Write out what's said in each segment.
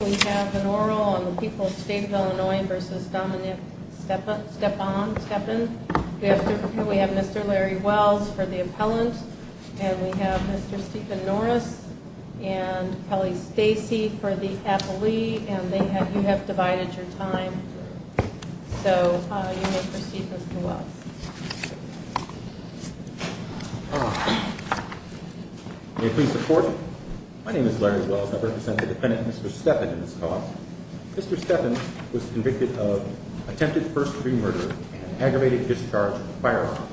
We have an oral on the people of State of Illinois v. Dominick Steppan. We have Mr. Larry Wells for the appellant. And we have Mr. Stephen Norris and Kelly Stacey for the appellee. And you have divided your time. So you may proceed, Mr. Wells. May I please report? My name is Larry Wells. I represent the defendant, Mr. Steppan, in this court. Mr. Steppan was convicted of attempted first-degree murder and aggravated discharge of a firearm.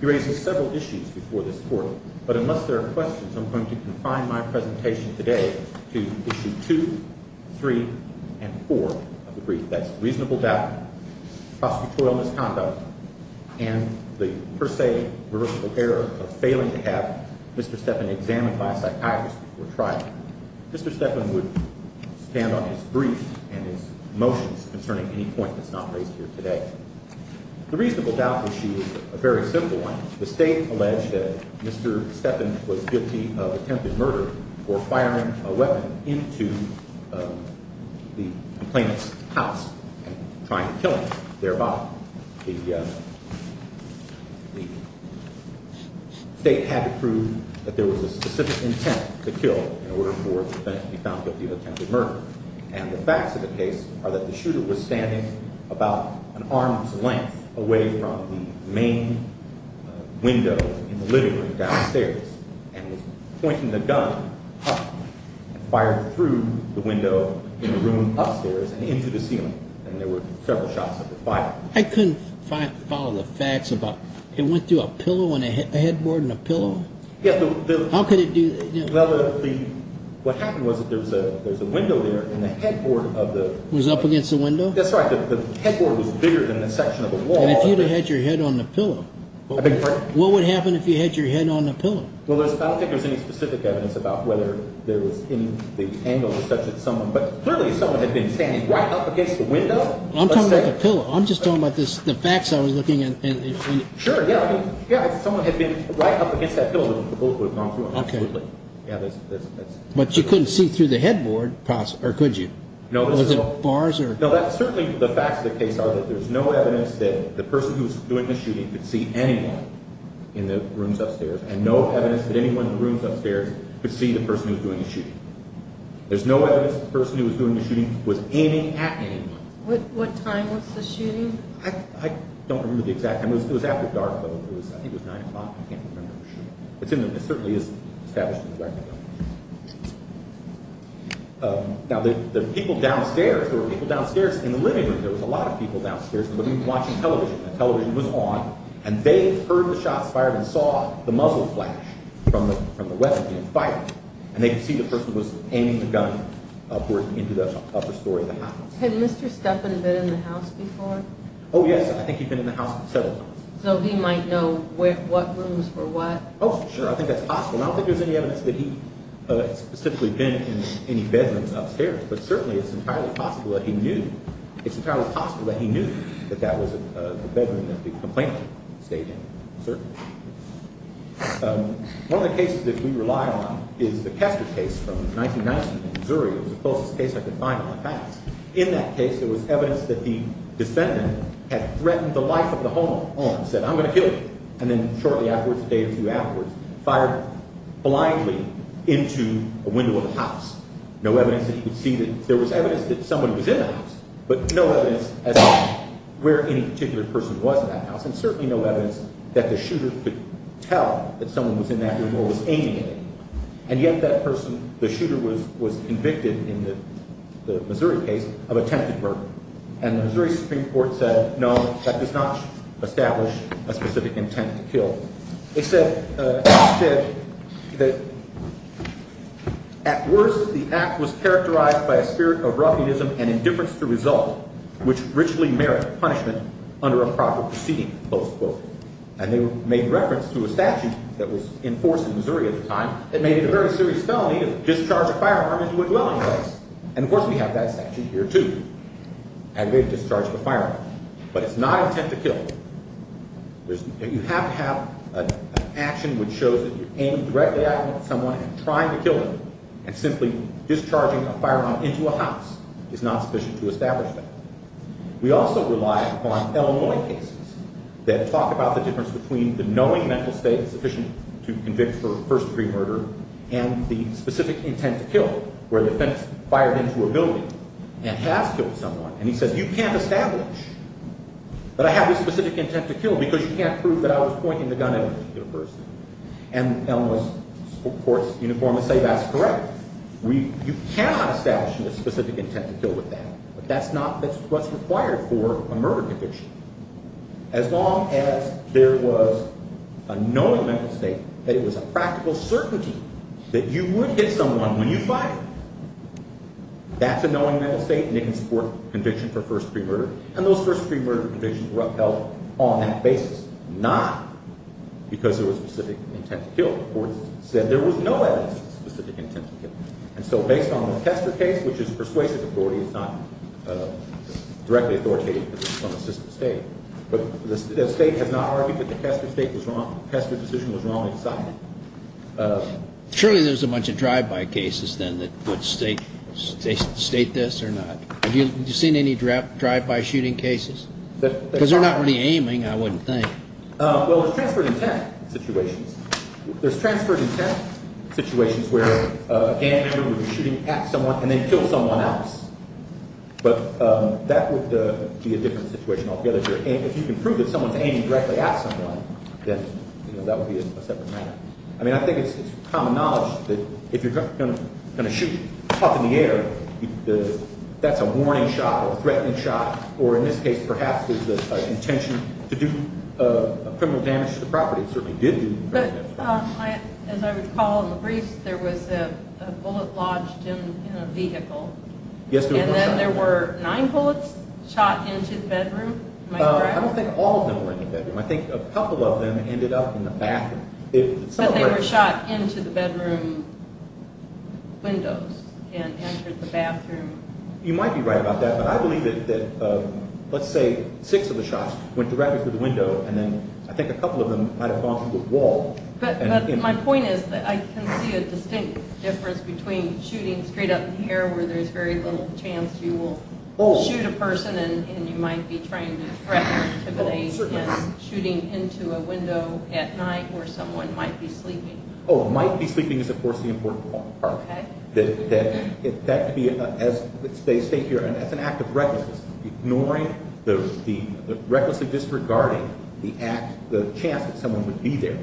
He raised several issues before this court. But unless there are questions, I'm going to confine my presentation today to Issues 2, 3, and 4 of the brief. That's reasonable doubt, prosecutorial misconduct, and the per se veritable error of failing to have Mr. Steppan examined by a psychiatrist. Mr. Steppan would stand on his brief and his motions concerning any point that's not raised here today. The reasonable doubt issue is a very simple one. The State alleged that Mr. Steppan was guilty of attempted murder for firing a weapon into the complainant's house and trying to kill him. Thereby, the State had to prove that there was a specific intent to kill in order for the defendant to be found guilty of attempted murder. And the facts of the case are that the shooter was standing about an arm's length away from the main window in the living room downstairs and was pointing the gun up and fired through the window in the room upstairs and into the ceiling. And there were several shots that were fired. I couldn't follow the facts about – it went through a pillow and a headboard and a pillow? Yes, the – How could it do – Well, the – what happened was that there was a window there and the headboard of the – Was up against the window? That's right. The headboard was bigger than the section of the wall. And if you had your head on the pillow? I beg your pardon? What would happen if you had your head on the pillow? Well, there's – I don't think there's any specific evidence about whether there was any – the angle was such that someone – I'm talking about the pillow. I'm just talking about this – the facts I was looking at. Sure, yeah. I mean, yeah, if someone had been right up against that pillow, the bullet would have gone through them, absolutely. Yeah, that's – But you couldn't see through the headboard, or could you? No, this is – Was it bars or – No, that's – certainly the facts of the case are that there's no evidence that the person who was doing the shooting could see anyone in the rooms upstairs and no evidence that anyone in the rooms upstairs could see the person who was doing the shooting. There's no evidence the person who was doing the shooting was aiming at anyone. What time was the shooting? I don't remember the exact time. It was after dark, though. I think it was 9 o'clock. I can't remember. It certainly is established in the record, though. Now, the people downstairs – there were people downstairs in the living room. There was a lot of people downstairs. There were people watching television. The television was on, and they heard the shots fired and saw the muzzle flash from the weapon being fired. And they could see the person who was aiming the gun upward into the upper story of the house. Had Mr. Stephan been in the house before? Oh, yes. I think he'd been in the house several times. So he might know what rooms were what? Oh, sure. I think that's possible. And I don't think there's any evidence that he had specifically been in any bedrooms upstairs, but certainly it's entirely possible that he knew – it's entirely possible that he knew that that was the bedroom that the complainant stayed in. Certainly. One of the cases that we rely on is the Kester case from 1990 in Missouri. It was the closest case I could find in the past. In that case, there was evidence that the defendant had threatened the life of the homeowner and said, I'm going to kill you. And then shortly afterwards, a day or two afterwards, fired blindly into a window of the house. No evidence that he could see that – there was evidence that someone was in the house, and certainly no evidence that the shooter could tell that someone was in that room or was aiming at him. And yet that person, the shooter, was convicted in the Missouri case of attempted murder. And the Missouri Supreme Court said, no, that does not establish a specific intent to kill. They said that, at worst, the act was characterized by a spirit of ruffianism and indifference to result, which richly merits punishment under a proper proceeding, close quote. And they made reference to a statute that was in force in Missouri at the time that made it a very serious felony to discharge a firearm into a dwelling place. And, of course, we have that statute here too. Aggravated discharge of a firearm. But it's not intent to kill. You have to have an action which shows that you're aiming directly at someone and trying to kill them, and simply discharging a firearm into a house is not sufficient to establish that. We also rely upon Illinois cases that talk about the difference between the knowing mental state is sufficient to convict for first pre-murder and the specific intent to kill, where a defense fired into a building and has killed someone, and he says, you can't establish that I have this specific intent to kill because you can't prove that I was pointing the gun at a particular person. And Illinois courts uniformly say that's correct. You cannot establish a specific intent to kill with that. But that's not what's required for a murder conviction. As long as there was a knowing mental state that it was a practical certainty that you would hit someone when you fired. That's a knowing mental state, and it can support conviction for first pre-murder. And those first pre-murder convictions were upheld on that basis. Not because there was a specific intent to kill. The court said there was no evidence of a specific intent to kill. And so based on the Kester case, which is persuasive authority, it's not directly authoritative because it's from a system state. But the state has not argued that the Kester state was wrong. The Kester decision was wrongly decided. Surely there's a bunch of drive-by cases then that would state this or not. Have you seen any drive-by shooting cases? Because they're not really aiming, I wouldn't think. Well, there's transferred intent situations. There's transferred intent situations where a gang member would be shooting at someone and then kill someone else. But that would be a different situation altogether. If you can prove that someone's aiming directly at someone, then that would be a separate matter. I mean, I think it's common knowledge that if you're going to shoot up in the air, that's a warning shot or a threatening shot. Or in this case, perhaps there's an intention to do criminal damage to the property. It certainly did do criminal damage. But as I recall in the briefs, there was a bullet lodged in a vehicle. Yes, there was one shot. And then there were nine bullets shot into the bedroom. I don't think all of them were in the bedroom. I think a couple of them ended up in the bathroom. But they were shot into the bedroom windows and entered the bathroom. You might be right about that. But I believe that, let's say, six of the shots went directly through the window. And then I think a couple of them might have gone through the wall. But my point is that I can see a distinct difference between shooting straight up in the air where there's very little chance you will shoot a person. And you might be trying to threaten an activity and shooting into a window at night where someone might be sleeping. Oh, might be sleeping is, of course, the important part. That could be as they stay here. And that's an act of recklessness, ignoring the recklessness of disregarding the chance that someone would be there.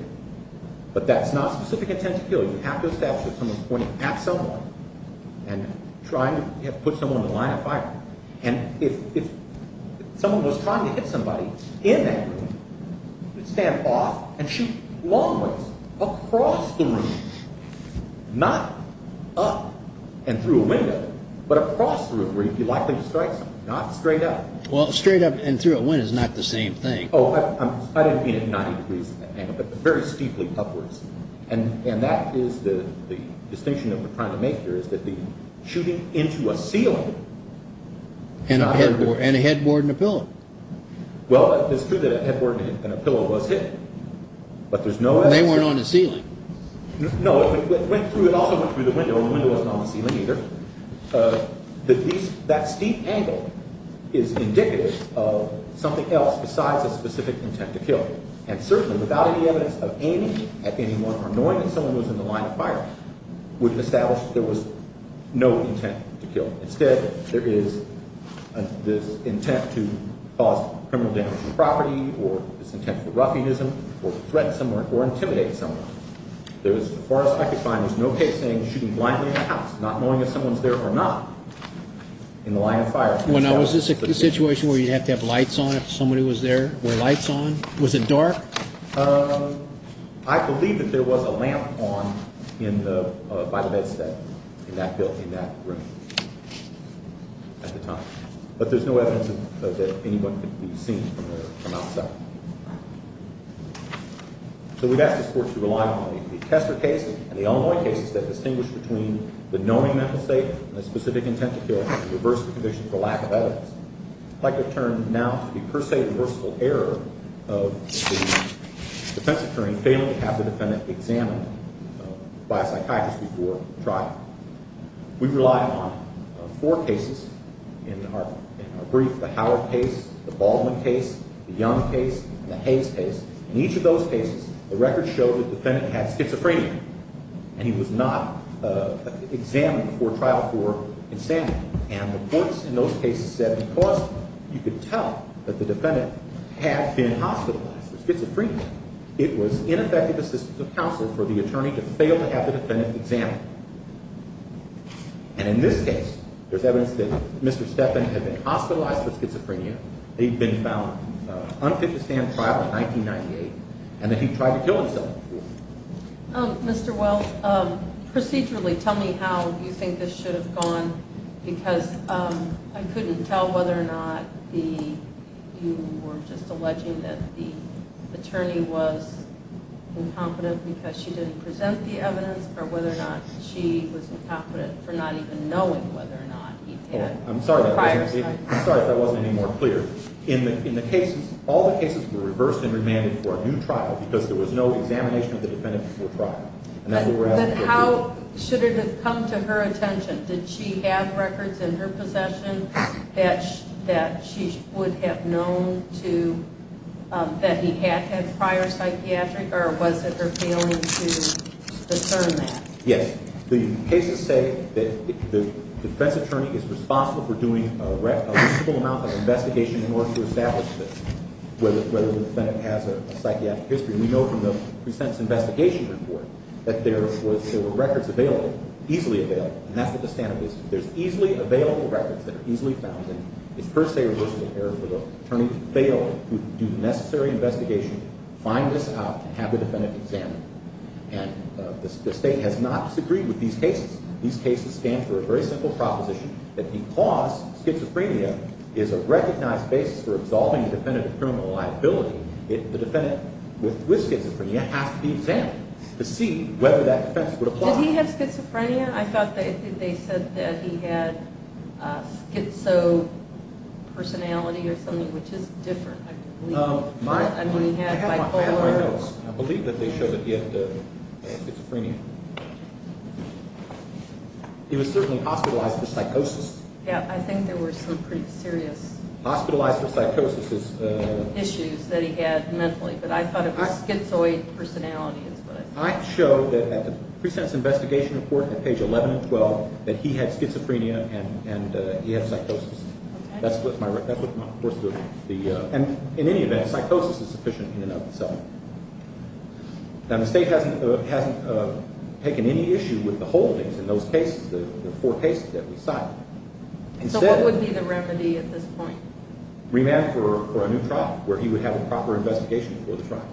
But that's not specific intent to kill. You have to establish that someone's pointing at someone and trying to put someone in the line of fire. And if someone was trying to hit somebody in that room, you would stand off and shoot long ways across the room. Not up and through a window, but across the room where you'd be likely to strike someone, not straight up. Well, straight up and through a window is not the same thing. Oh, I didn't mean at 90 degrees, but very steeply upwards. And that is the distinction that we're trying to make here is that the shooting into a ceiling. And a headboard and a pillow. Well, it's true that a headboard and a pillow was hit, but there's no… No, it went through, it also went through the window. The window wasn't on the ceiling either. That steep angle is indicative of something else besides a specific intent to kill. And certainly without any evidence of aiming at anyone or knowing that someone was in the line of fire would establish there was no intent to kill. Instead, there is this intent to cause criminal damage to property or this intent for ruffianism or to threaten someone or intimidate someone. As far as I could find, there's no case saying shooting blindly in the house, not knowing if someone's there or not, in the line of fire. Now, was this a situation where you'd have to have lights on if somebody was there, wear lights on? Was it dark? I believe that there was a lamp on by the bedstead in that room at the time. But there's no evidence that anyone could be seen from outside. So we've asked this Court to rely on the Tester case and the Illinois cases that distinguish between the knowing mental state and the specific intent to kill and the aversive condition for lack of evidence. I'd like to turn now to the per se reversible error of the defense attorney failing to have the defendant examined by a psychiatrist before trial. We rely on four cases in our brief, the Howard case, the Baldwin case, the Young case, and the Hayes case. In each of those cases, the records show the defendant had schizophrenia and he was not examined before trial for insanity. And the courts in those cases said because you could tell that the defendant had been hospitalized for schizophrenia, it was ineffective assistance of counsel for the attorney to fail to have the defendant examined. And in this case, there's evidence that Mr. Stephan had been hospitalized for schizophrenia. He'd been found unfit to stand trial in 1998, and that he tried to kill himself before. Mr. Welch, procedurally, tell me how you think this should have gone, because I couldn't tell whether or not you were just alleging that the attorney was incompetent because she didn't present the evidence, or whether or not she was incompetent for not even knowing whether or not he had prior sight. I'm sorry if that wasn't any more clear. In the cases, all the cases were reversed and remanded for a new trial because there was no examination of the defendant before trial. And that's what we're asking for. But how should it have come to her attention? Did she have records in her possession that she would have known that he had had prior psychiatric, or was it her failing to discern that? Yes. The cases say that the defense attorney is responsible for doing a reasonable amount of investigation in order to establish this, whether the defendant has a psychiatric history. We know from the present investigation report that there were records available, easily available, and that's what the standard is. There's easily available records that are easily found, and it's per se reversible error for the attorney to fail to do the necessary investigation, find this out, and have the defendant examined. And the state has not disagreed with these cases. These cases stand for a very simple proposition that because schizophrenia is a recognized basis for absolving a defendant of criminal liability, the defendant with schizophrenia has to be examined to see whether that defense would apply. Did he have schizophrenia? I thought they said that he had schizo personality or something, which is different. I believe that they showed that he had schizophrenia. He was certainly hospitalized for psychosis. Yeah, I think there were some pretty serious issues that he had mentally, but I thought it was schizoid personality. I showed at the present investigation report at page 11 and 12 that he had schizophrenia and he had psychosis. And in any event, psychosis is sufficient in and of itself. Now, the state hasn't taken any issue with the holdings in those cases, the four cases that we cited. So what would be the remedy at this point? Remand for a new trial where he would have a proper investigation for the trial.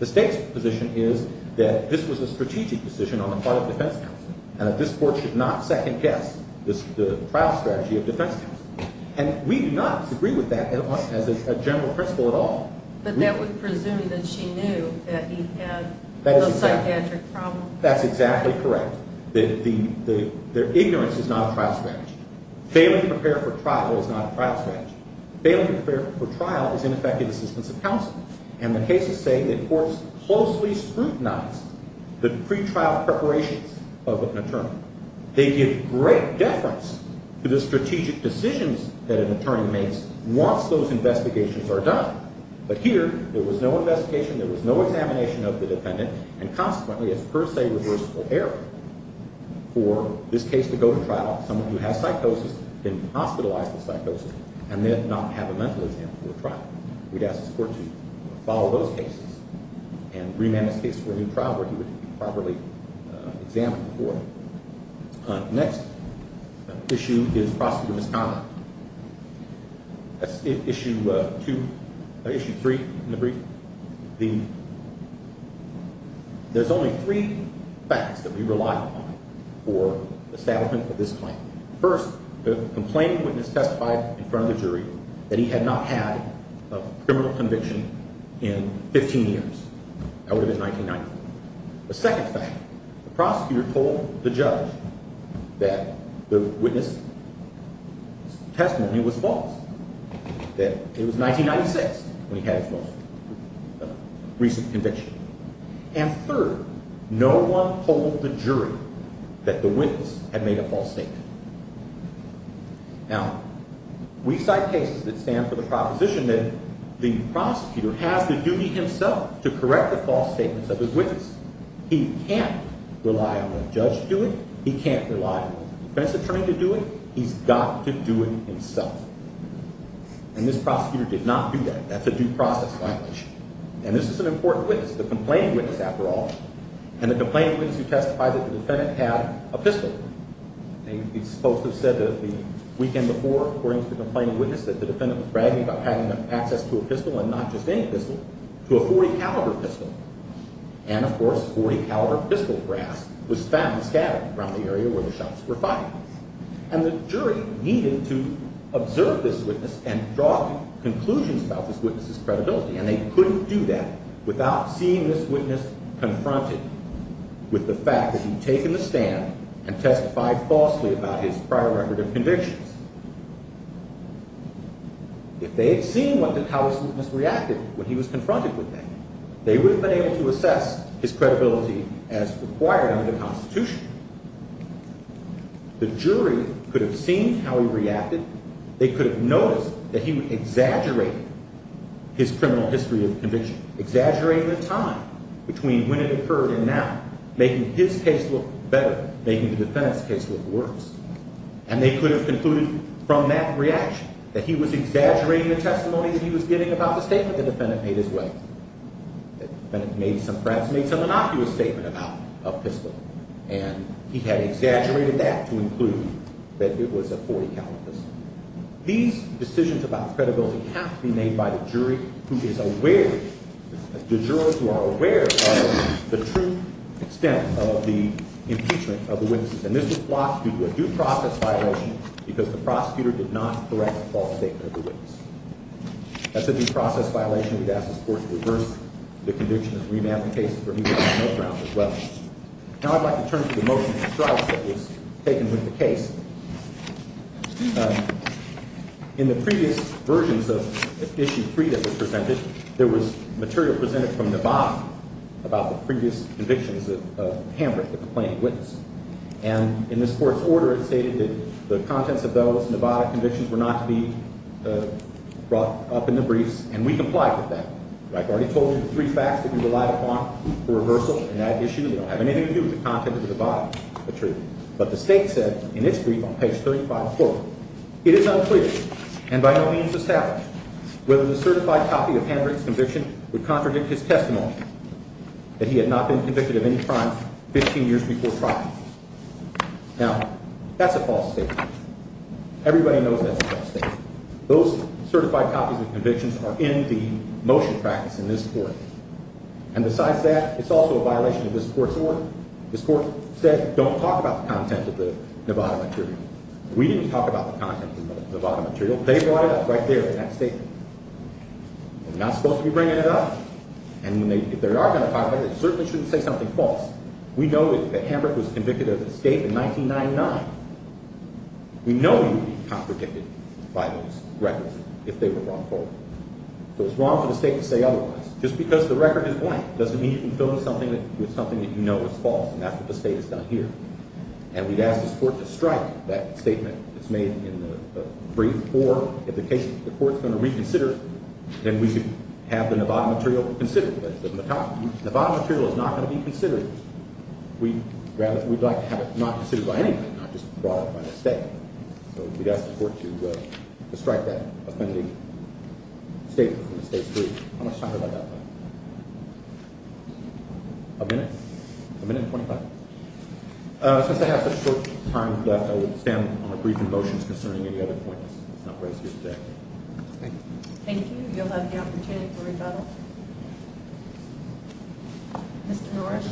The state's position is that this was a strategic decision on the part of defense counsel, and that this court should not second-guess the trial strategy of defense counsel. And we do not agree with that as a general principle at all. But that would presume that she knew that he had a psychiatric problem. That's exactly correct. Their ignorance is not a trial strategy. Failing to prepare for trial is not a trial strategy. Failing to prepare for trial is ineffective assistance of counsel. And the case is saying that courts closely scrutinize the pretrial preparations of an attorney. They give great deference to the strategic decisions that an attorney makes once those investigations are done. But here, there was no investigation, there was no examination of the defendant, and consequently, it's per se reversible error for this case to go to trial, someone who has psychosis, been hospitalized with psychosis, and then not have a mental exam for a trial. We'd ask this court to follow those cases and remand this case for a new trial where he would be properly examined for it. Next issue is prosecutor misconduct. That's issue two. No, issue three in the brief. There's only three facts that we rely upon for establishment of this claim. First, the complaining witness testified in front of the jury that he had not had a criminal conviction in 15 years. That would have been 1990. The second fact, the prosecutor told the judge that the witness' testimony was false, that it was 1996 when he had his most recent conviction. And third, no one told the jury that the witness had made a false statement. Now, we cite cases that stand for the proposition that the prosecutor has the duty himself to correct the false statements of his witness. He can't rely on the judge to do it. He can't rely on the defense attorney to do it. He's got to do it himself. And this prosecutor did not do that. That's a due process violation. And this is an important witness, the complaining witness, after all, and the complaining witness who testified that the defendant had a pistol. These folks have said the weekend before, according to the complaining witness, that the defendant was bragging about having access to a pistol and not just any pistol, to a .40 caliber pistol. And, of course, .40 caliber pistol brass was found scattered around the area where the shots were fired. And the jury needed to observe this witness and draw conclusions about this witness' credibility. And they couldn't do that without seeing this witness confronted with the fact that he'd taken the stand and testified falsely about his prior record of convictions. If they had seen how this witness reacted when he was confronted with that, they would have been able to assess his credibility as required under the Constitution. The jury could have seen how he reacted. They could have noticed that he was exaggerating his criminal history of conviction, exaggerating the time between when it occurred and now, making his case look better, making the defendant's case look worse. And they could have concluded from that reaction that he was exaggerating the testimonies he was giving about the statement the defendant made his way. The defendant made some perhaps innocuous statement about a pistol. And he had exaggerated that to include that it was a .40 caliber pistol. These decisions about credibility have to be made by the jury who is aware, the jurors who are aware of the true extent of the impeachment of the witnesses. And this was blocked due to a due process violation because the prosecutor did not correct the false statement of the witness. That's a due process violation. And I would like to turn to the motion that was taken with the case. In the previous versions of Issue 3 that was presented, there was material presented from Nevada about the previous convictions of Hamrick, the complaining witness. And in this Court's order, it stated that the contents of those Nevada convictions were not to be brought up in the briefs. And we complied with that. I've already told you the three facts that we relied upon for reversal in that issue. They don't have anything to do with the content of the Nevada attribute. But the State said in its brief on page 35, quote, it is unclear and by no means established whether the certified copy of Hamrick's conviction would contradict his testimony that he had not been convicted of any crime 15 years before trial. Now, that's a false statement. Everybody knows that's a false statement. Those certified copies of convictions are in the motion practice in this Court. And besides that, it's also a violation of this Court's order. This Court said don't talk about the content of the Nevada material. We didn't talk about the content of the Nevada material. They brought it up right there in that statement. They're not supposed to be bringing it up. And if they are going to talk about it, they certainly shouldn't say something false. We know that Hamrick was convicted as a state in 1999. We know he would be contradicted by those records if they were brought forward. So it's wrong for the State to say otherwise. Just because the record is blank doesn't mean you can fill it with something that you know is false, and that's what the State has done here. And we've asked this Court to strike that statement that's made in the brief, or if the Court's going to reconsider, then we should have the Nevada material considered. The Nevada material is not going to be considered. We'd like to have it not considered by anybody, not just brought up by the State. So we've asked the Court to strike that offending statement from the State's brief. How much time do I have left? A minute? A minute and 25? Since I have such short time left, I will stand on the brief and motions concerning any other points. It's not right here today. Thank you. You'll have the opportunity for rebuttal. Mr. Norris?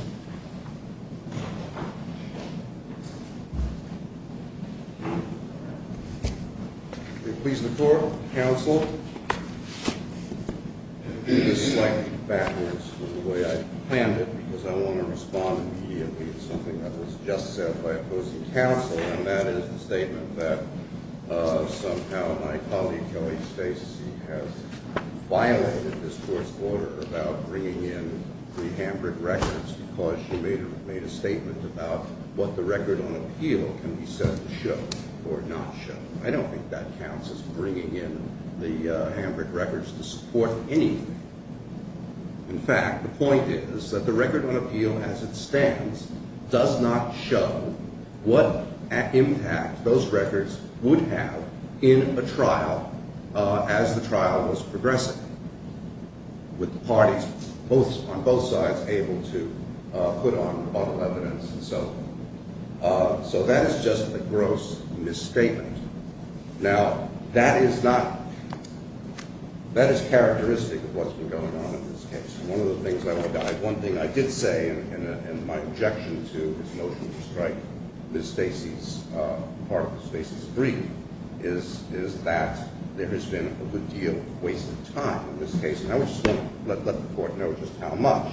It pleases the Court, counsel. This is slightly backwards from the way I planned it, because I want to respond immediately to something that was just said by opposing counsel, and that is the statement that somehow my colleague, Kelly Stacey, has violated this Court's order about bringing in the Hamburg records because she made a statement about what the record on appeal can be said to show or not show. I don't think that counts as bringing in the Hamburg records to support anything. In fact, the point is that the record on appeal as it stands does not show what impact those records would have in a trial as the trial was progressing, with the parties on both sides able to put on a lot of evidence and so on. So that is just a gross misstatement. Now, that is characteristic of what's been going on in this case. One thing I did say, and my objection to his motion to strike Ms. Stacey's brief, is that there has been a good deal of wasted time in this case. And I just want to let the Court know just how much.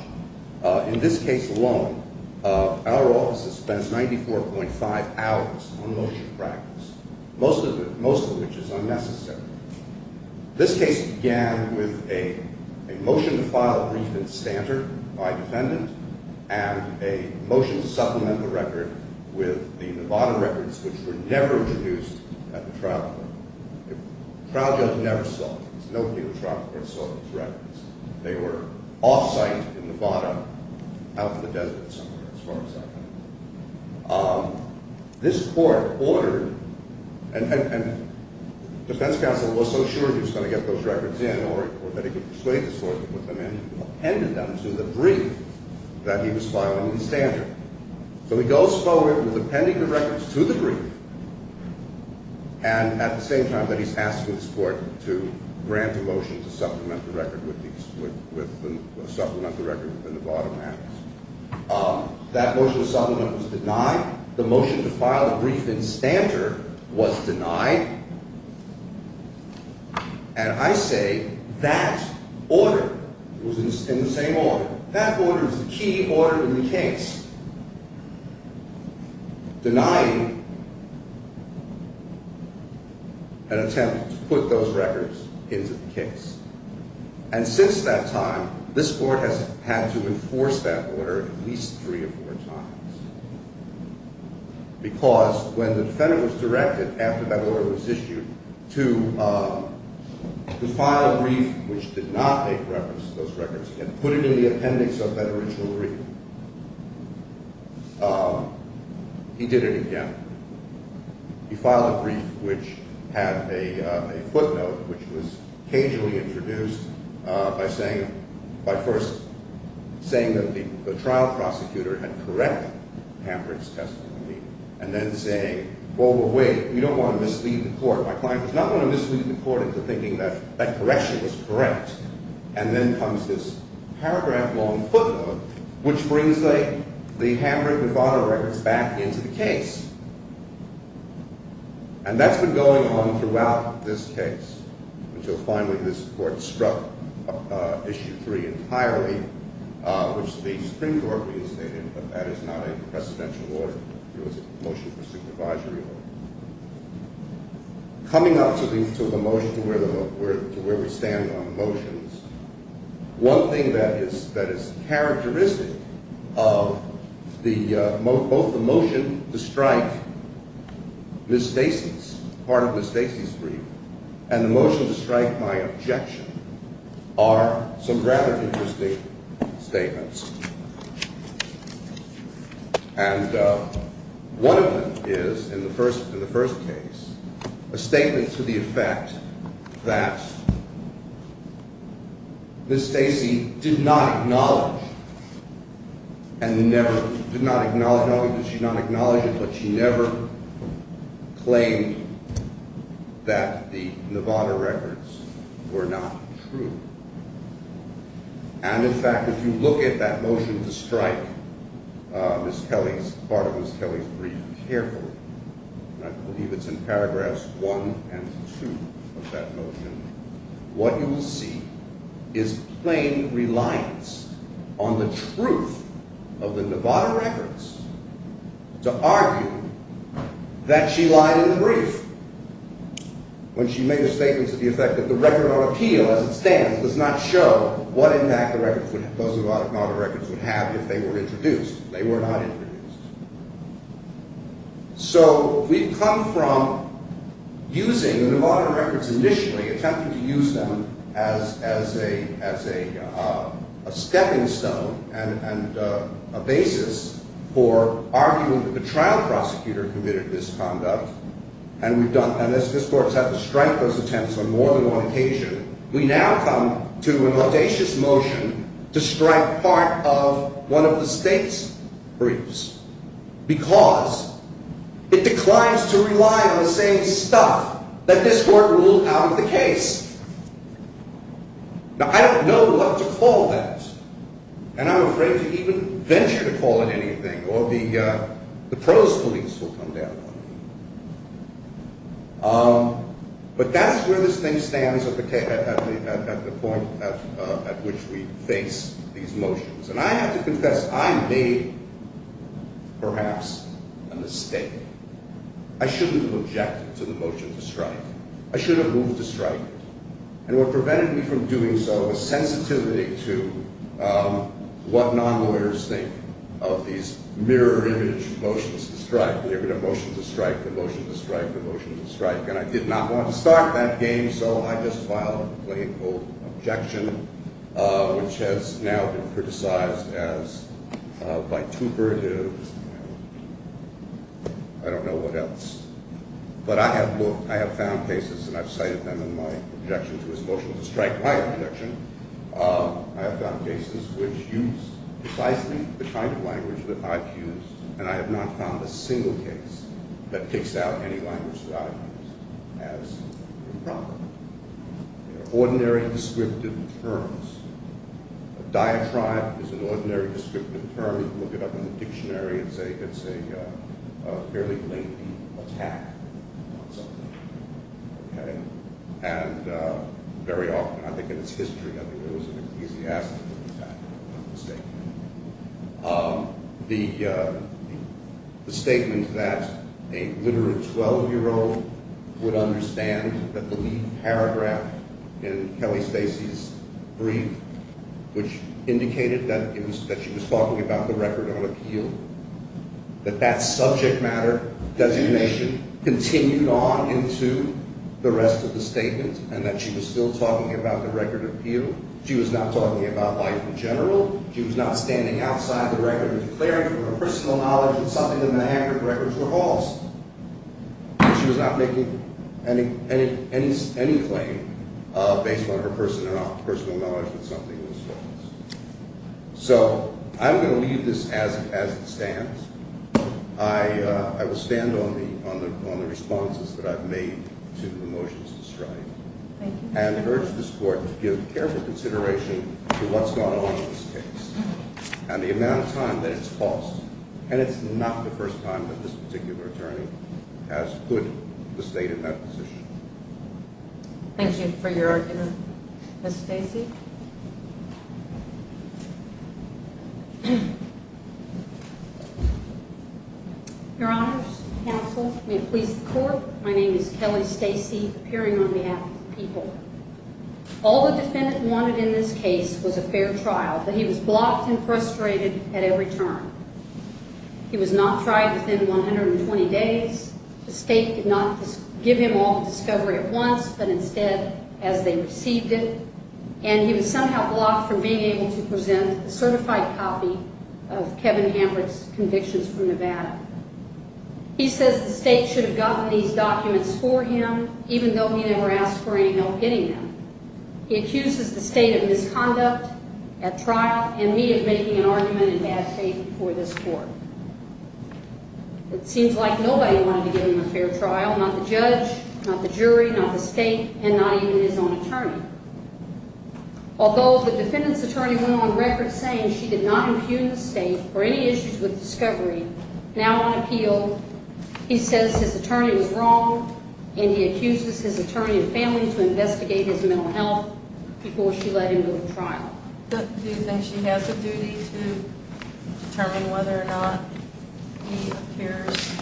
In this case alone, our office has spent 94.5 hours on motion practice, most of which is unnecessary. This case began with a motion to file a brief in Stantor by a defendant and a motion to supplement the record with the Nevada records, which were never introduced at the trial court. The trial judge never saw them. There was nobody at the trial court who saw those records. They were off-site in Nevada, out in the desert somewhere, as far as I can remember. This Court ordered, and the defense counsel was so sure he was going to get those records in or that he could persuade the Court to put them in, he appended them to the brief that he was filing in Stantor. So he goes forward with appending the records to the brief, and at the same time that he's asking this Court to grant a motion to supplement the record with the Nevada matters. That motion to supplement was denied. The motion to file a brief in Stantor was denied. And I say that order was in the same order. That order is the key order in the case, denying an attempt to put those records into the case. And since that time, this Court has had to enforce that order at least three or four times, because when the defendant was directed, after that order was issued, to file a brief which did not make reference to those records, and put it in the appendix of that original brief, he did it again. He filed a brief which had a footnote which was occasionally introduced by first saying that the trial prosecutor had corrected Hampert's testimony, and then saying, well, wait, we don't want to mislead the Court. My client does not want to mislead the Court into thinking that that correction was correct. And then comes this paragraph-long footnote which brings the Hambert-Nevada records back into the case. And that's been going on throughout this case until finally this Court struck Issue 3 entirely, which the Supreme Court reinstated, but that is not a presidential order. It was a motion for supervisory order. Coming up to the motion, to where we stand on motions, one thing that is characteristic of both the motion to strike Ms. Stacy's, part of Ms. Stacy's brief, and the motion to strike my objection are some rather interesting statements. And one of them is, in the first case, a statement to the effect that Ms. Stacy did not acknowledge, and never did not acknowledge, not only did she not acknowledge it, but she never claimed that the Nevada records were not true. And, in fact, if you look at that motion to strike Ms. Kelly's, part of Ms. Kelly's brief carefully, and I believe it's in paragraphs 1 and 2 of that motion, what you will see is plain reliance on the truth of the Nevada records to argue that she lied in the brief. When she made the statement to the effect that the record on appeal, as it stands, does not show what impact those Nevada records would have if they were introduced. They were not introduced. So we've come from using the Nevada records initially, attempting to use them as a stepping stone and a basis for arguing that the trial prosecutor committed misconduct, and as this court has had to strike those attempts on more than one occasion, we now come to a audacious motion to strike part of one of the state's briefs, because it declines to rely on the same stuff that this court ruled out of the case. Now, I don't know what to call that, and I'm afraid to even venture to call it anything, or the pros police will come down on me. But that's where this thing stands at the point at which we face these motions, and I have to confess I made perhaps a mistake. I shouldn't have objected to the motion to strike. I should have moved to strike, and what prevented me from doing so was sensitivity to what non-lawyers think of these mirror image motions to strike. They're going to motion to strike, the motion to strike, the motion to strike, and I did not want to start that game, so I just filed a complaint called objection, which has now been criticized as vituperative, and I don't know what else. But I have looked, I have found cases, and I've cited them in my objection to his motion to strike, my objection. I have found cases which use precisely the kind of language that I've used, and I have not found a single case that kicks out any language that I've used as improper. Ordinary descriptive terms. A diatribe is an ordinary descriptive term. You look it up in the dictionary, it's a fairly lengthy attack on something. And very often, I think in its history, I think it was an enthusiastic attack on the statement. The statement that a literate 12-year-old would understand that the lead paragraph in Kelly Stacey's brief, which indicated that she was talking about the record on appeal, that that subject matter designation continued on into the rest of the statement, and that she was still talking about the record of appeal. She was not talking about life in general. She was not standing outside the record and declaring from her personal knowledge that something in the handbook records were false. She was not making any claim based on her personal knowledge that something was false. So, I'm going to leave this as it stands. I will stand on the responses that I've made to the motions to strike. And I urge this Court to give careful consideration to what's gone on in this case. And the amount of time that it's cost. And it's not the first time that this particular attorney has put the State in that position. Thank you for your argument. Ms. Stacey? Thank you. Your Honors, Counsel, may it please the Court. My name is Kelly Stacey, appearing on behalf of the people. All the defendant wanted in this case was a fair trial, but he was blocked and frustrated at every turn. He was not tried within 120 days. The State did not give him all the discovery at once, but instead as they received it. And he was somehow blocked from being able to present a certified copy of Kevin Hambrick's convictions from Nevada. He says the State should have gotten these documents for him, even though he never asked for any help getting them. He accuses the State of misconduct at trial and me of making an argument in bad faith before this Court. It seems like nobody wanted to give him a fair trial. Not the judge, not the jury, not the State, and not even his own attorney. Although the defendant's attorney went on record saying she did not impugn the State for any issues with discovery, now on appeal, he says his attorney was wrong and he accuses his attorney and family to investigate his mental health before she let him go to trial. Do you think she has a duty to determine whether or not he appears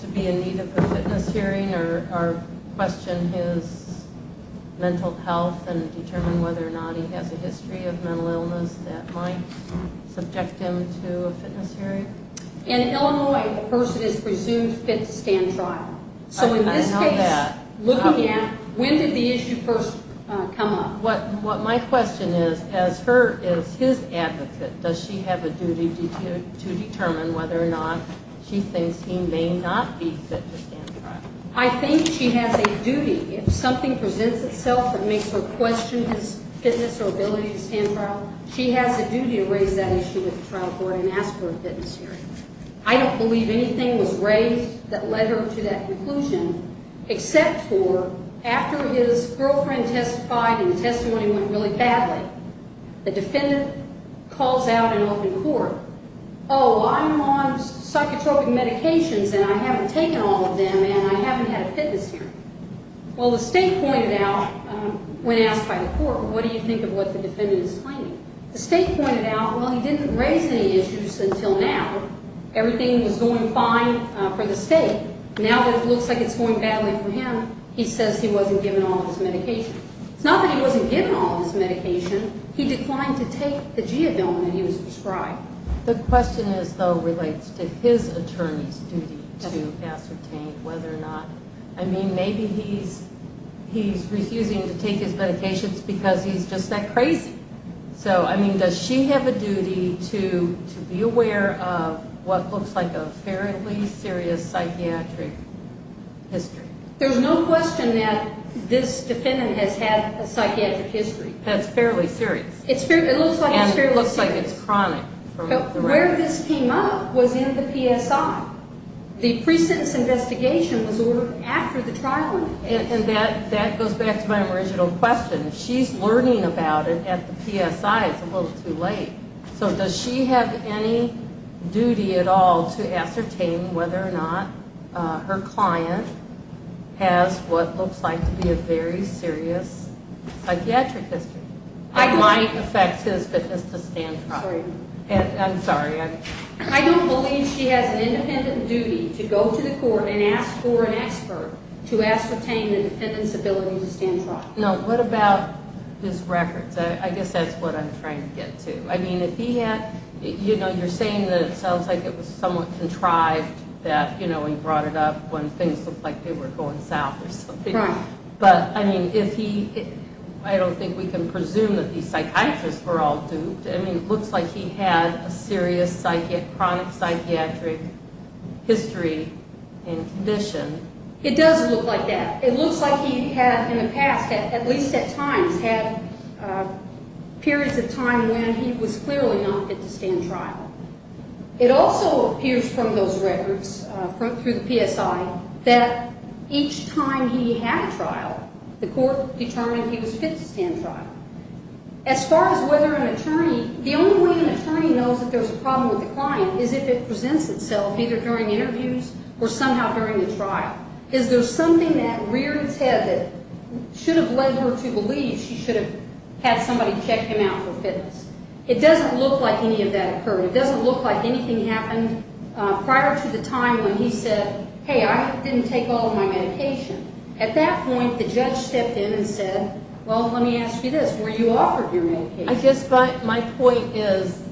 to be in need of a fitness hearing or question his mental health and determine whether or not he has a history of mental illness that might subject him to a fitness hearing? In Illinois, the person is presumed fit to stand trial. I know that. Looking at, when did the issue first come up? What my question is, as her, as his advocate, does she have a duty to determine whether or not she thinks he may not be fit to stand trial? I think she has a duty. If something presents itself that makes her question his fitness or ability to stand trial, she has a duty to raise that issue with the trial court and ask for a fitness hearing. I don't believe anything was raised that led her to that conclusion except for after his girlfriend testified and the testimony went really badly, the defendant calls out in open court, oh, I'm on psychotropic medications and I haven't taken all of them and I haven't had a fitness hearing. Well, the State pointed out, when asked by the court, what do you think of what the defendant is claiming? The State pointed out, well, he didn't raise any issues until now. Everything was going fine for the State. Now that it looks like it's going badly for him, he says he wasn't given all of his medication. It's not that he wasn't given all of his medication. He declined to take the GeoBilm that he was prescribed. The question is, though, relates to his attorney's duty to ascertain whether or not, I mean, maybe he's refusing to take his medications because he's just that crazy. So, I mean, does she have a duty to be aware of what looks like a fairly serious psychiatric history? There's no question that this defendant has had a psychiatric history. That's fairly serious. It looks like it's fairly serious. And it looks like it's chronic. Where this came up was in the PSI. The pre-sentence investigation was ordered after the trial. And that goes back to my original question. She's learning about it at the PSI. It's a little too late. So does she have any duty at all to ascertain whether or not her client has what looks like to be a very serious psychiatric history? It might affect his fitness to stand trial. I'm sorry. I don't believe she has an independent duty to go to the court and ask for an expert to ascertain the defendant's ability to stand trial. No, what about his records? I guess that's what I'm trying to get to. I mean, if he had, you know, you're saying that it sounds like it was somewhat contrived that, you know, he brought it up when things looked like they were going south or something. Right. But, I mean, if he, I don't think we can presume that these psychiatrists were all duped. I mean, it looks like he had a serious chronic psychiatric history and condition. It doesn't look like that. It looks like he had in the past, at least at times, had periods of time when he was clearly not fit to stand trial. It also appears from those records through the PSI that each time he had a trial, the court determined he was fit to stand trial. As far as whether an attorney, the only way an attorney knows that there's a problem with the client is if it presents itself, either during interviews or somehow during the trial. Is there something that rears his head that should have led her to believe she should have had somebody check him out for fitness? It doesn't look like any of that occurred. It doesn't look like anything happened prior to the time when he said, hey, I didn't take all of my medication. At that point, the judge stepped in and said, well, let me ask you this. Were you offered your medication? I guess my point is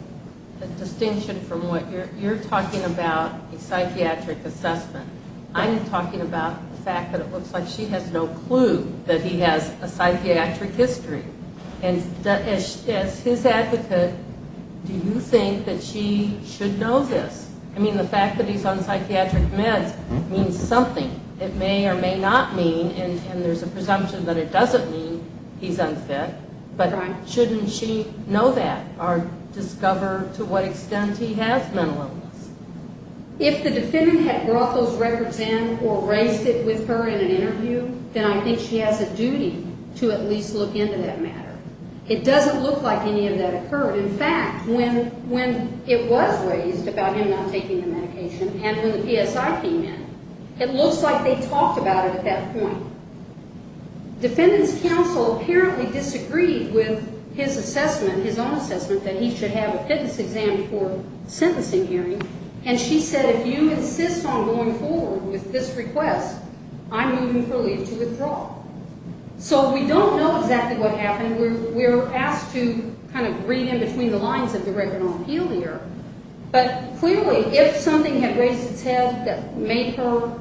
a distinction from what you're talking about, a psychiatric assessment. I'm talking about the fact that it looks like she has no clue that he has a psychiatric history. And as his advocate, do you think that she should know this? I mean, the fact that he's on psychiatric meds means something. It may or may not mean, and there's a presumption that it doesn't mean he's unfit. But shouldn't she know that or discover to what extent he has mental illness? If the defendant had brought those records in or raised it with her in an interview, then I think she has a duty to at least look into that matter. It doesn't look like any of that occurred. In fact, when it was raised about him not taking the medication and when the PSI came in, it looks like they talked about it at that point. Defendant's counsel apparently disagreed with his assessment, his own assessment, that he should have a fitness exam before sentencing hearing. And she said, if you insist on going forward with this request, I'm moving for leave to withdraw. So we don't know exactly what happened. We were asked to kind of read in between the lines of the record on appeal here. But clearly, if something had raised its head that made her,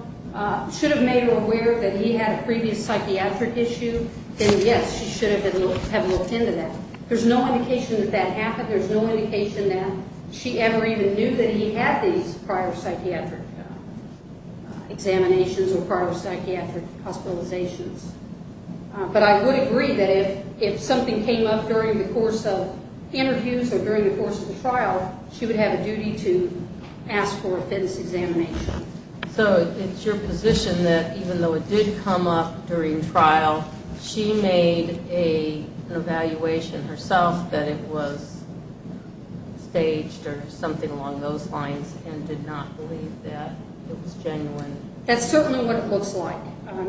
should have made her aware that he had a previous psychiatric issue, then yes, she should have looked into that. There's no indication that that happened. There's no indication that she ever even knew that he had these prior psychiatric examinations or prior psychiatric hospitalizations. But I would agree that if something came up during the course of interviews or during the course of the trial, she would have a duty to ask for a fitness examination. So it's your position that even though it did come up during trial, she made an evaluation herself that it was staged or something along those lines and did not believe that it was genuine? That's certainly what it looks like.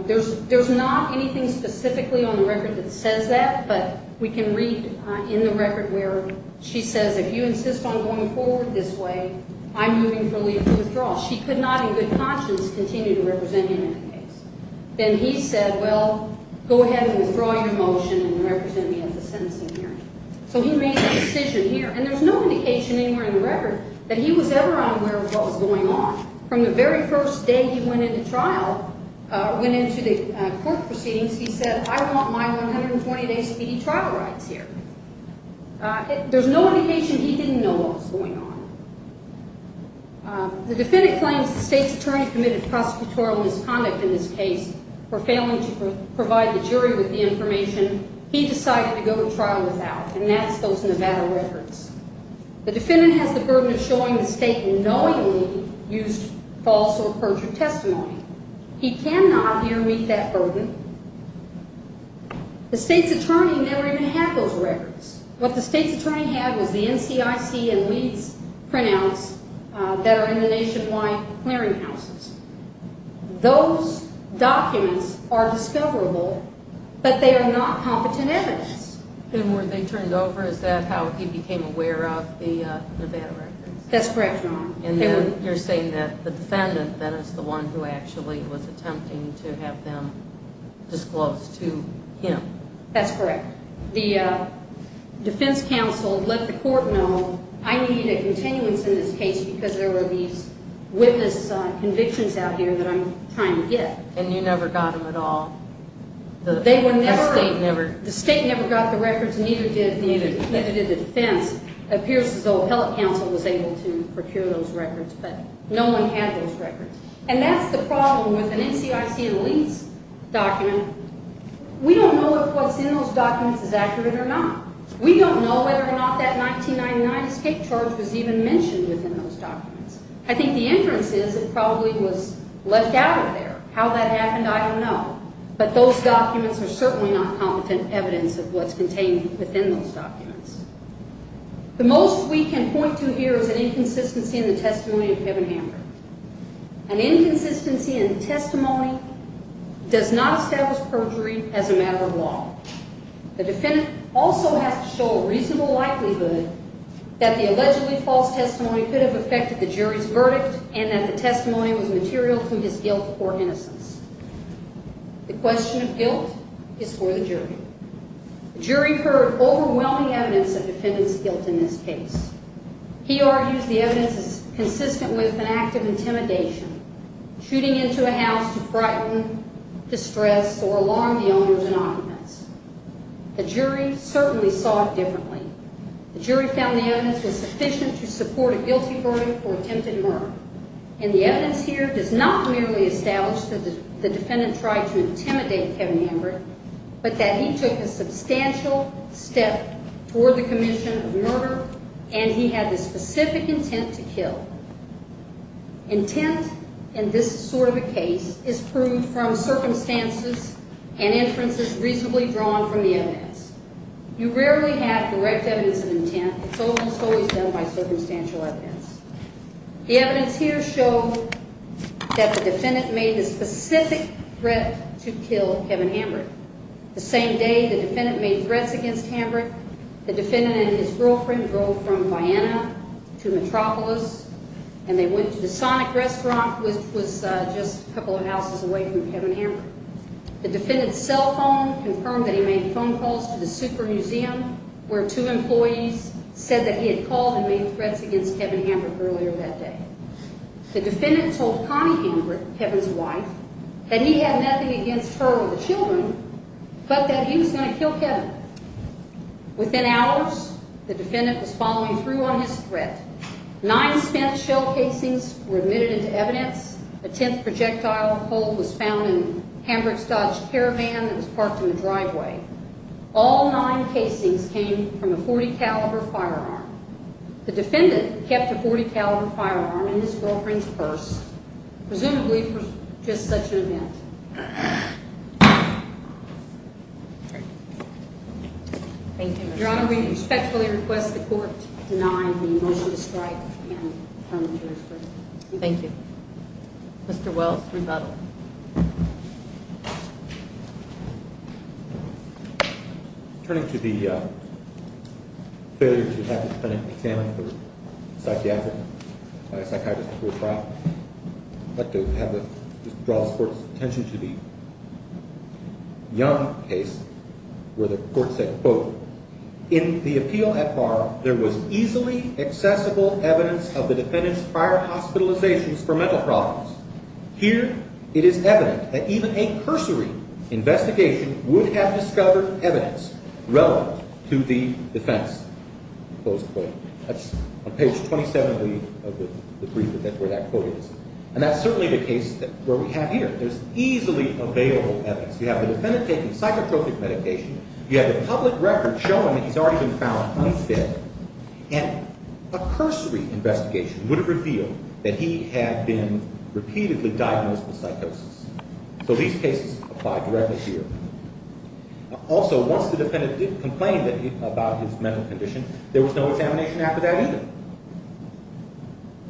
There's not anything specifically on the record that says that, but we can read in the record where she says, if you insist on going forward this way, I'm moving for leave to withdraw. She could not in good conscience continue to represent him in the case. Then he said, well, go ahead and withdraw your motion and represent me at the sentencing hearing. So he made the decision here. And there's no indication anywhere in the record that he was ever unaware of what was going on. From the very first day he went into trial, went into the court proceedings, he said, I want my 120-day speedy trial rights here. There's no indication he didn't know what was going on. The defendant claims the state's attorney committed prosecutorial misconduct in this case for failing to provide the jury with the information he decided to go to trial without, and that's those Nevada records. The defendant has the burden of showing the state knowingly used false or perjured testimony. He cannot, here, meet that burden. The state's attorney never even had those records. What the state's attorney had was the NCIC and Leeds printouts that are in the nationwide clearinghouses. Those documents are discoverable, but they are not competent evidence. And were they turned over? Is that how he became aware of the Nevada records? That's correct, Your Honor. And then you're saying that the defendant then is the one who actually was attempting to have them disclose to him. That's correct. The defense counsel let the court know, I need a continuance in this case because there were these witness convictions out here that I'm trying to get. And you never got them at all? The state never got the records, and neither did the defense. It appears as though appellate counsel was able to procure those records, but no one had those records. And that's the problem with an NCIC and Leeds document. We don't know if what's in those documents is accurate or not. We don't know whether or not that 1999 escape charge was even mentioned within those documents. I think the inference is it probably was left out of there. How that happened, I don't know. But those documents are certainly not competent evidence of what's contained within those documents. The most we can point to here is an inconsistency in the testimony of Kevin Hammer. An inconsistency in the testimony does not establish perjury as a matter of law. The defendant also has to show a reasonable likelihood that the allegedly false testimony could have affected the jury's verdict and that the testimony was material to his guilt or innocence. The question of guilt is for the jury. The jury heard overwhelming evidence of the defendant's guilt in this case. He argues the evidence is consistent with an act of intimidation, shooting into a house to frighten, distress, or alarm the owners and occupants. The jury certainly saw it differently. The jury found the evidence was sufficient to support a guilty verdict for attempted murder. And the evidence here does not merely establish that the defendant tried to intimidate Kevin Hammer, but that he took a substantial step toward the commission of murder and he had the specific intent to kill. Intent in this sort of a case is proved from circumstances and inferences reasonably drawn from the evidence. You rarely have direct evidence of intent. It's almost always done by circumstantial evidence. The evidence here showed that the defendant made the specific threat to kill Kevin Hammer. The same day the defendant made threats against Hammer, the defendant and his girlfriend drove from Vienna to Metropolis, and they went to the Sonic restaurant, which was just a couple of houses away from Kevin Hammer. The defendant's cell phone confirmed that he made phone calls to the Super Museum, where two employees said that he had called and made threats against Kevin Hammer earlier that day. The defendant told Connie Hammer, Kevin's wife, that he had nothing against her or the children, but that he was going to kill Kevin. Within hours, the defendant was following through on his threat. Nine spent shell casings were admitted into evidence. A tenth projectile hold was found in Hammer's Dodge Caravan and was parked in the driveway. All nine casings came from a .40 caliber firearm. The defendant kept a .40 caliber firearm in his girlfriend's purse, presumably for just such an event. Your Honor, we respectfully request the court to deny the motion to strike and determine the jury's verdict. Thank you. Mr. Wells, rebuttal. Turning to the failure to attack the defendant in an exam for psychiatry by a psychiatrist before trial, I'd like to draw this Court's attention to the Young case where the Court said, quote, In the appeal at bar, there was easily accessible evidence of the defendant's prior hospitalizations for mental problems. Here, it is evident that even a cursory investigation would have discovered evidence relevant to the defense. Close quote. That's on page 27 of the brief where that quote is. And that's certainly the case where we have here. There's easily available evidence. You have the defendant taking psychotropic medication. You have the public record showing that he's already been found unfit. And a cursory investigation would have revealed that he had been repeatedly diagnosed with psychosis. So these cases apply directly here. Also, once the defendant did complain about his mental condition, there was no examination after that either.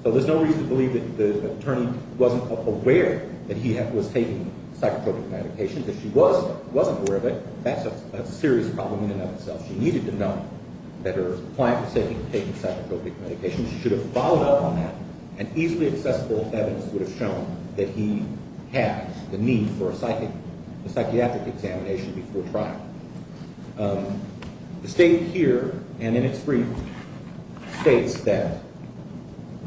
So there's no reason to believe that the attorney wasn't aware that he was taking psychotropic medication. If she wasn't aware of it, that's a serious problem in and of itself. She needed to know that her client was taking psychotropic medication. She should have followed up on that. And easily accessible evidence would have shown that he had the need for a psychiatric examination before trial. The statement here and in its brief states that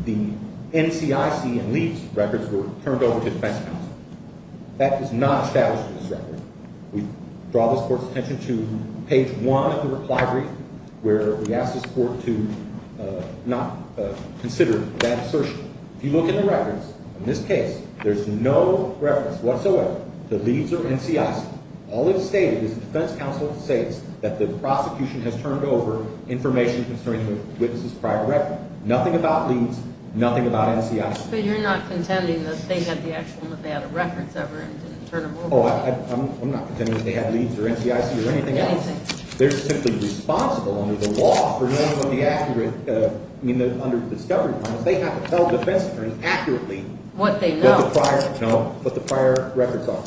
the NCIC and Leafs records were turned over to the defense counsel. That is not established in this record. We draw this court's attention to page 1 of the reply brief where we ask this court to not consider that assertion. If you look in the records, in this case, there's no reference whatsoever to Leafs or NCIC. All it stated is the defense counsel states that the prosecution has turned over information concerning the witnesses prior to record. Nothing about Leafs, nothing about NCIC. But you're not contending that they had the actual Nevada records of her and didn't turn them over? Oh, I'm not contending that they had Leafs or NCIC or anything else. Anything. They're simply responsible under the law for knowing what the accurate, I mean, under the discovery process, they have to tell defense attorneys accurately what the prior records are.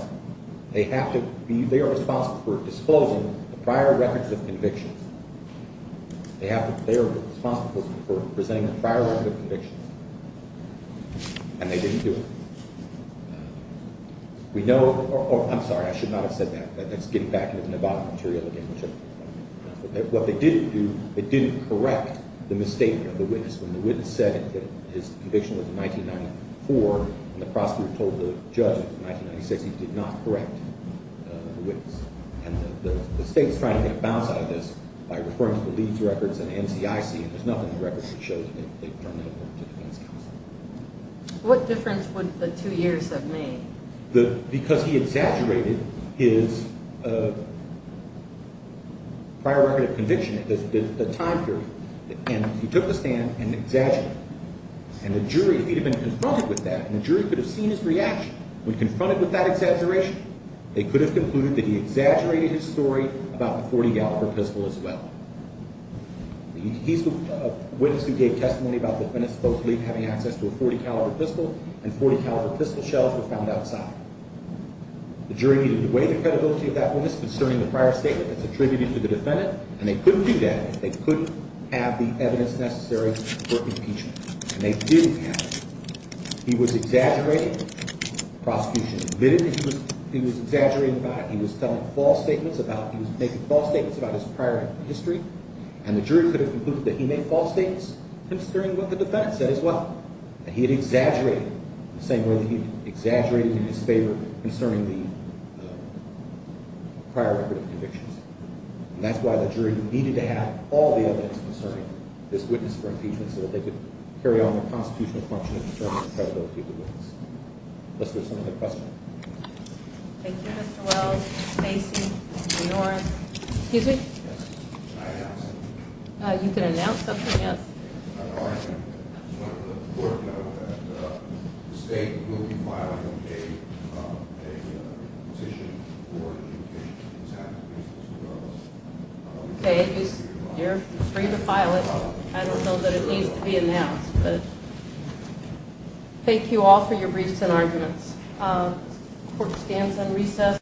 They have to be, they are responsible for disclosing the prior records of convictions. They are responsible for presenting the prior records of convictions. And they didn't do it. We know, or I'm sorry, I should not have said that. That's getting back into the Nevada material again. What they didn't do, they didn't correct the misstatement of the witness. When the witness said that his conviction was in 1994 and the prosecutor told the judge in 1996, he did not correct the witness. And the state was trying to get a bounce out of this by referring to the Leafs records and NCIC, and there's nothing in the records that shows that they turned that over to the defense counsel. What difference would the two years have made? Because he exaggerated his prior record of conviction, the time period, and he took the stand and exaggerated. And the jury, if he had been confronted with that, and the jury could have seen his reaction when confronted with that exaggeration, they could have concluded that he exaggerated his story about the .40 Gallagher pistol as well. He's the witness who gave testimony about the defendant supposedly having access to a .40 Gallagher pistol, and .40 Gallagher pistol shells were found outside. The jury needed to weigh the credibility of that witness concerning the prior statement that's attributed to the defendant, and they couldn't do that if they couldn't have the evidence necessary for impeachment. And they do have it. He was exaggerating. The prosecution admitted that he was exaggerating about it. He was making false statements about his prior history, and the jury could have concluded that he made false statements concerning what the defendant said as well, and he had exaggerated in the same way that he had exaggerated in his favor concerning the prior record of convictions. And that's why the jury needed to have all the evidence concerning this witness for impeachment so that they could carry on the constitutional function of determining the credibility of the witness. Let's go to some other questions. Thank you, Mr. Wells. Stacy. Mr. Norris. Excuse me? Yes. Can I announce something? You can announce something, yes. It's not an argument. It's part of the work, you know, that the state will be filing a petition for an impeachment exam. Mr. Wells. Okay. You're free to file it. I don't know that it needs to be announced, but thank you all for your briefs and arguments. Court stands on recess.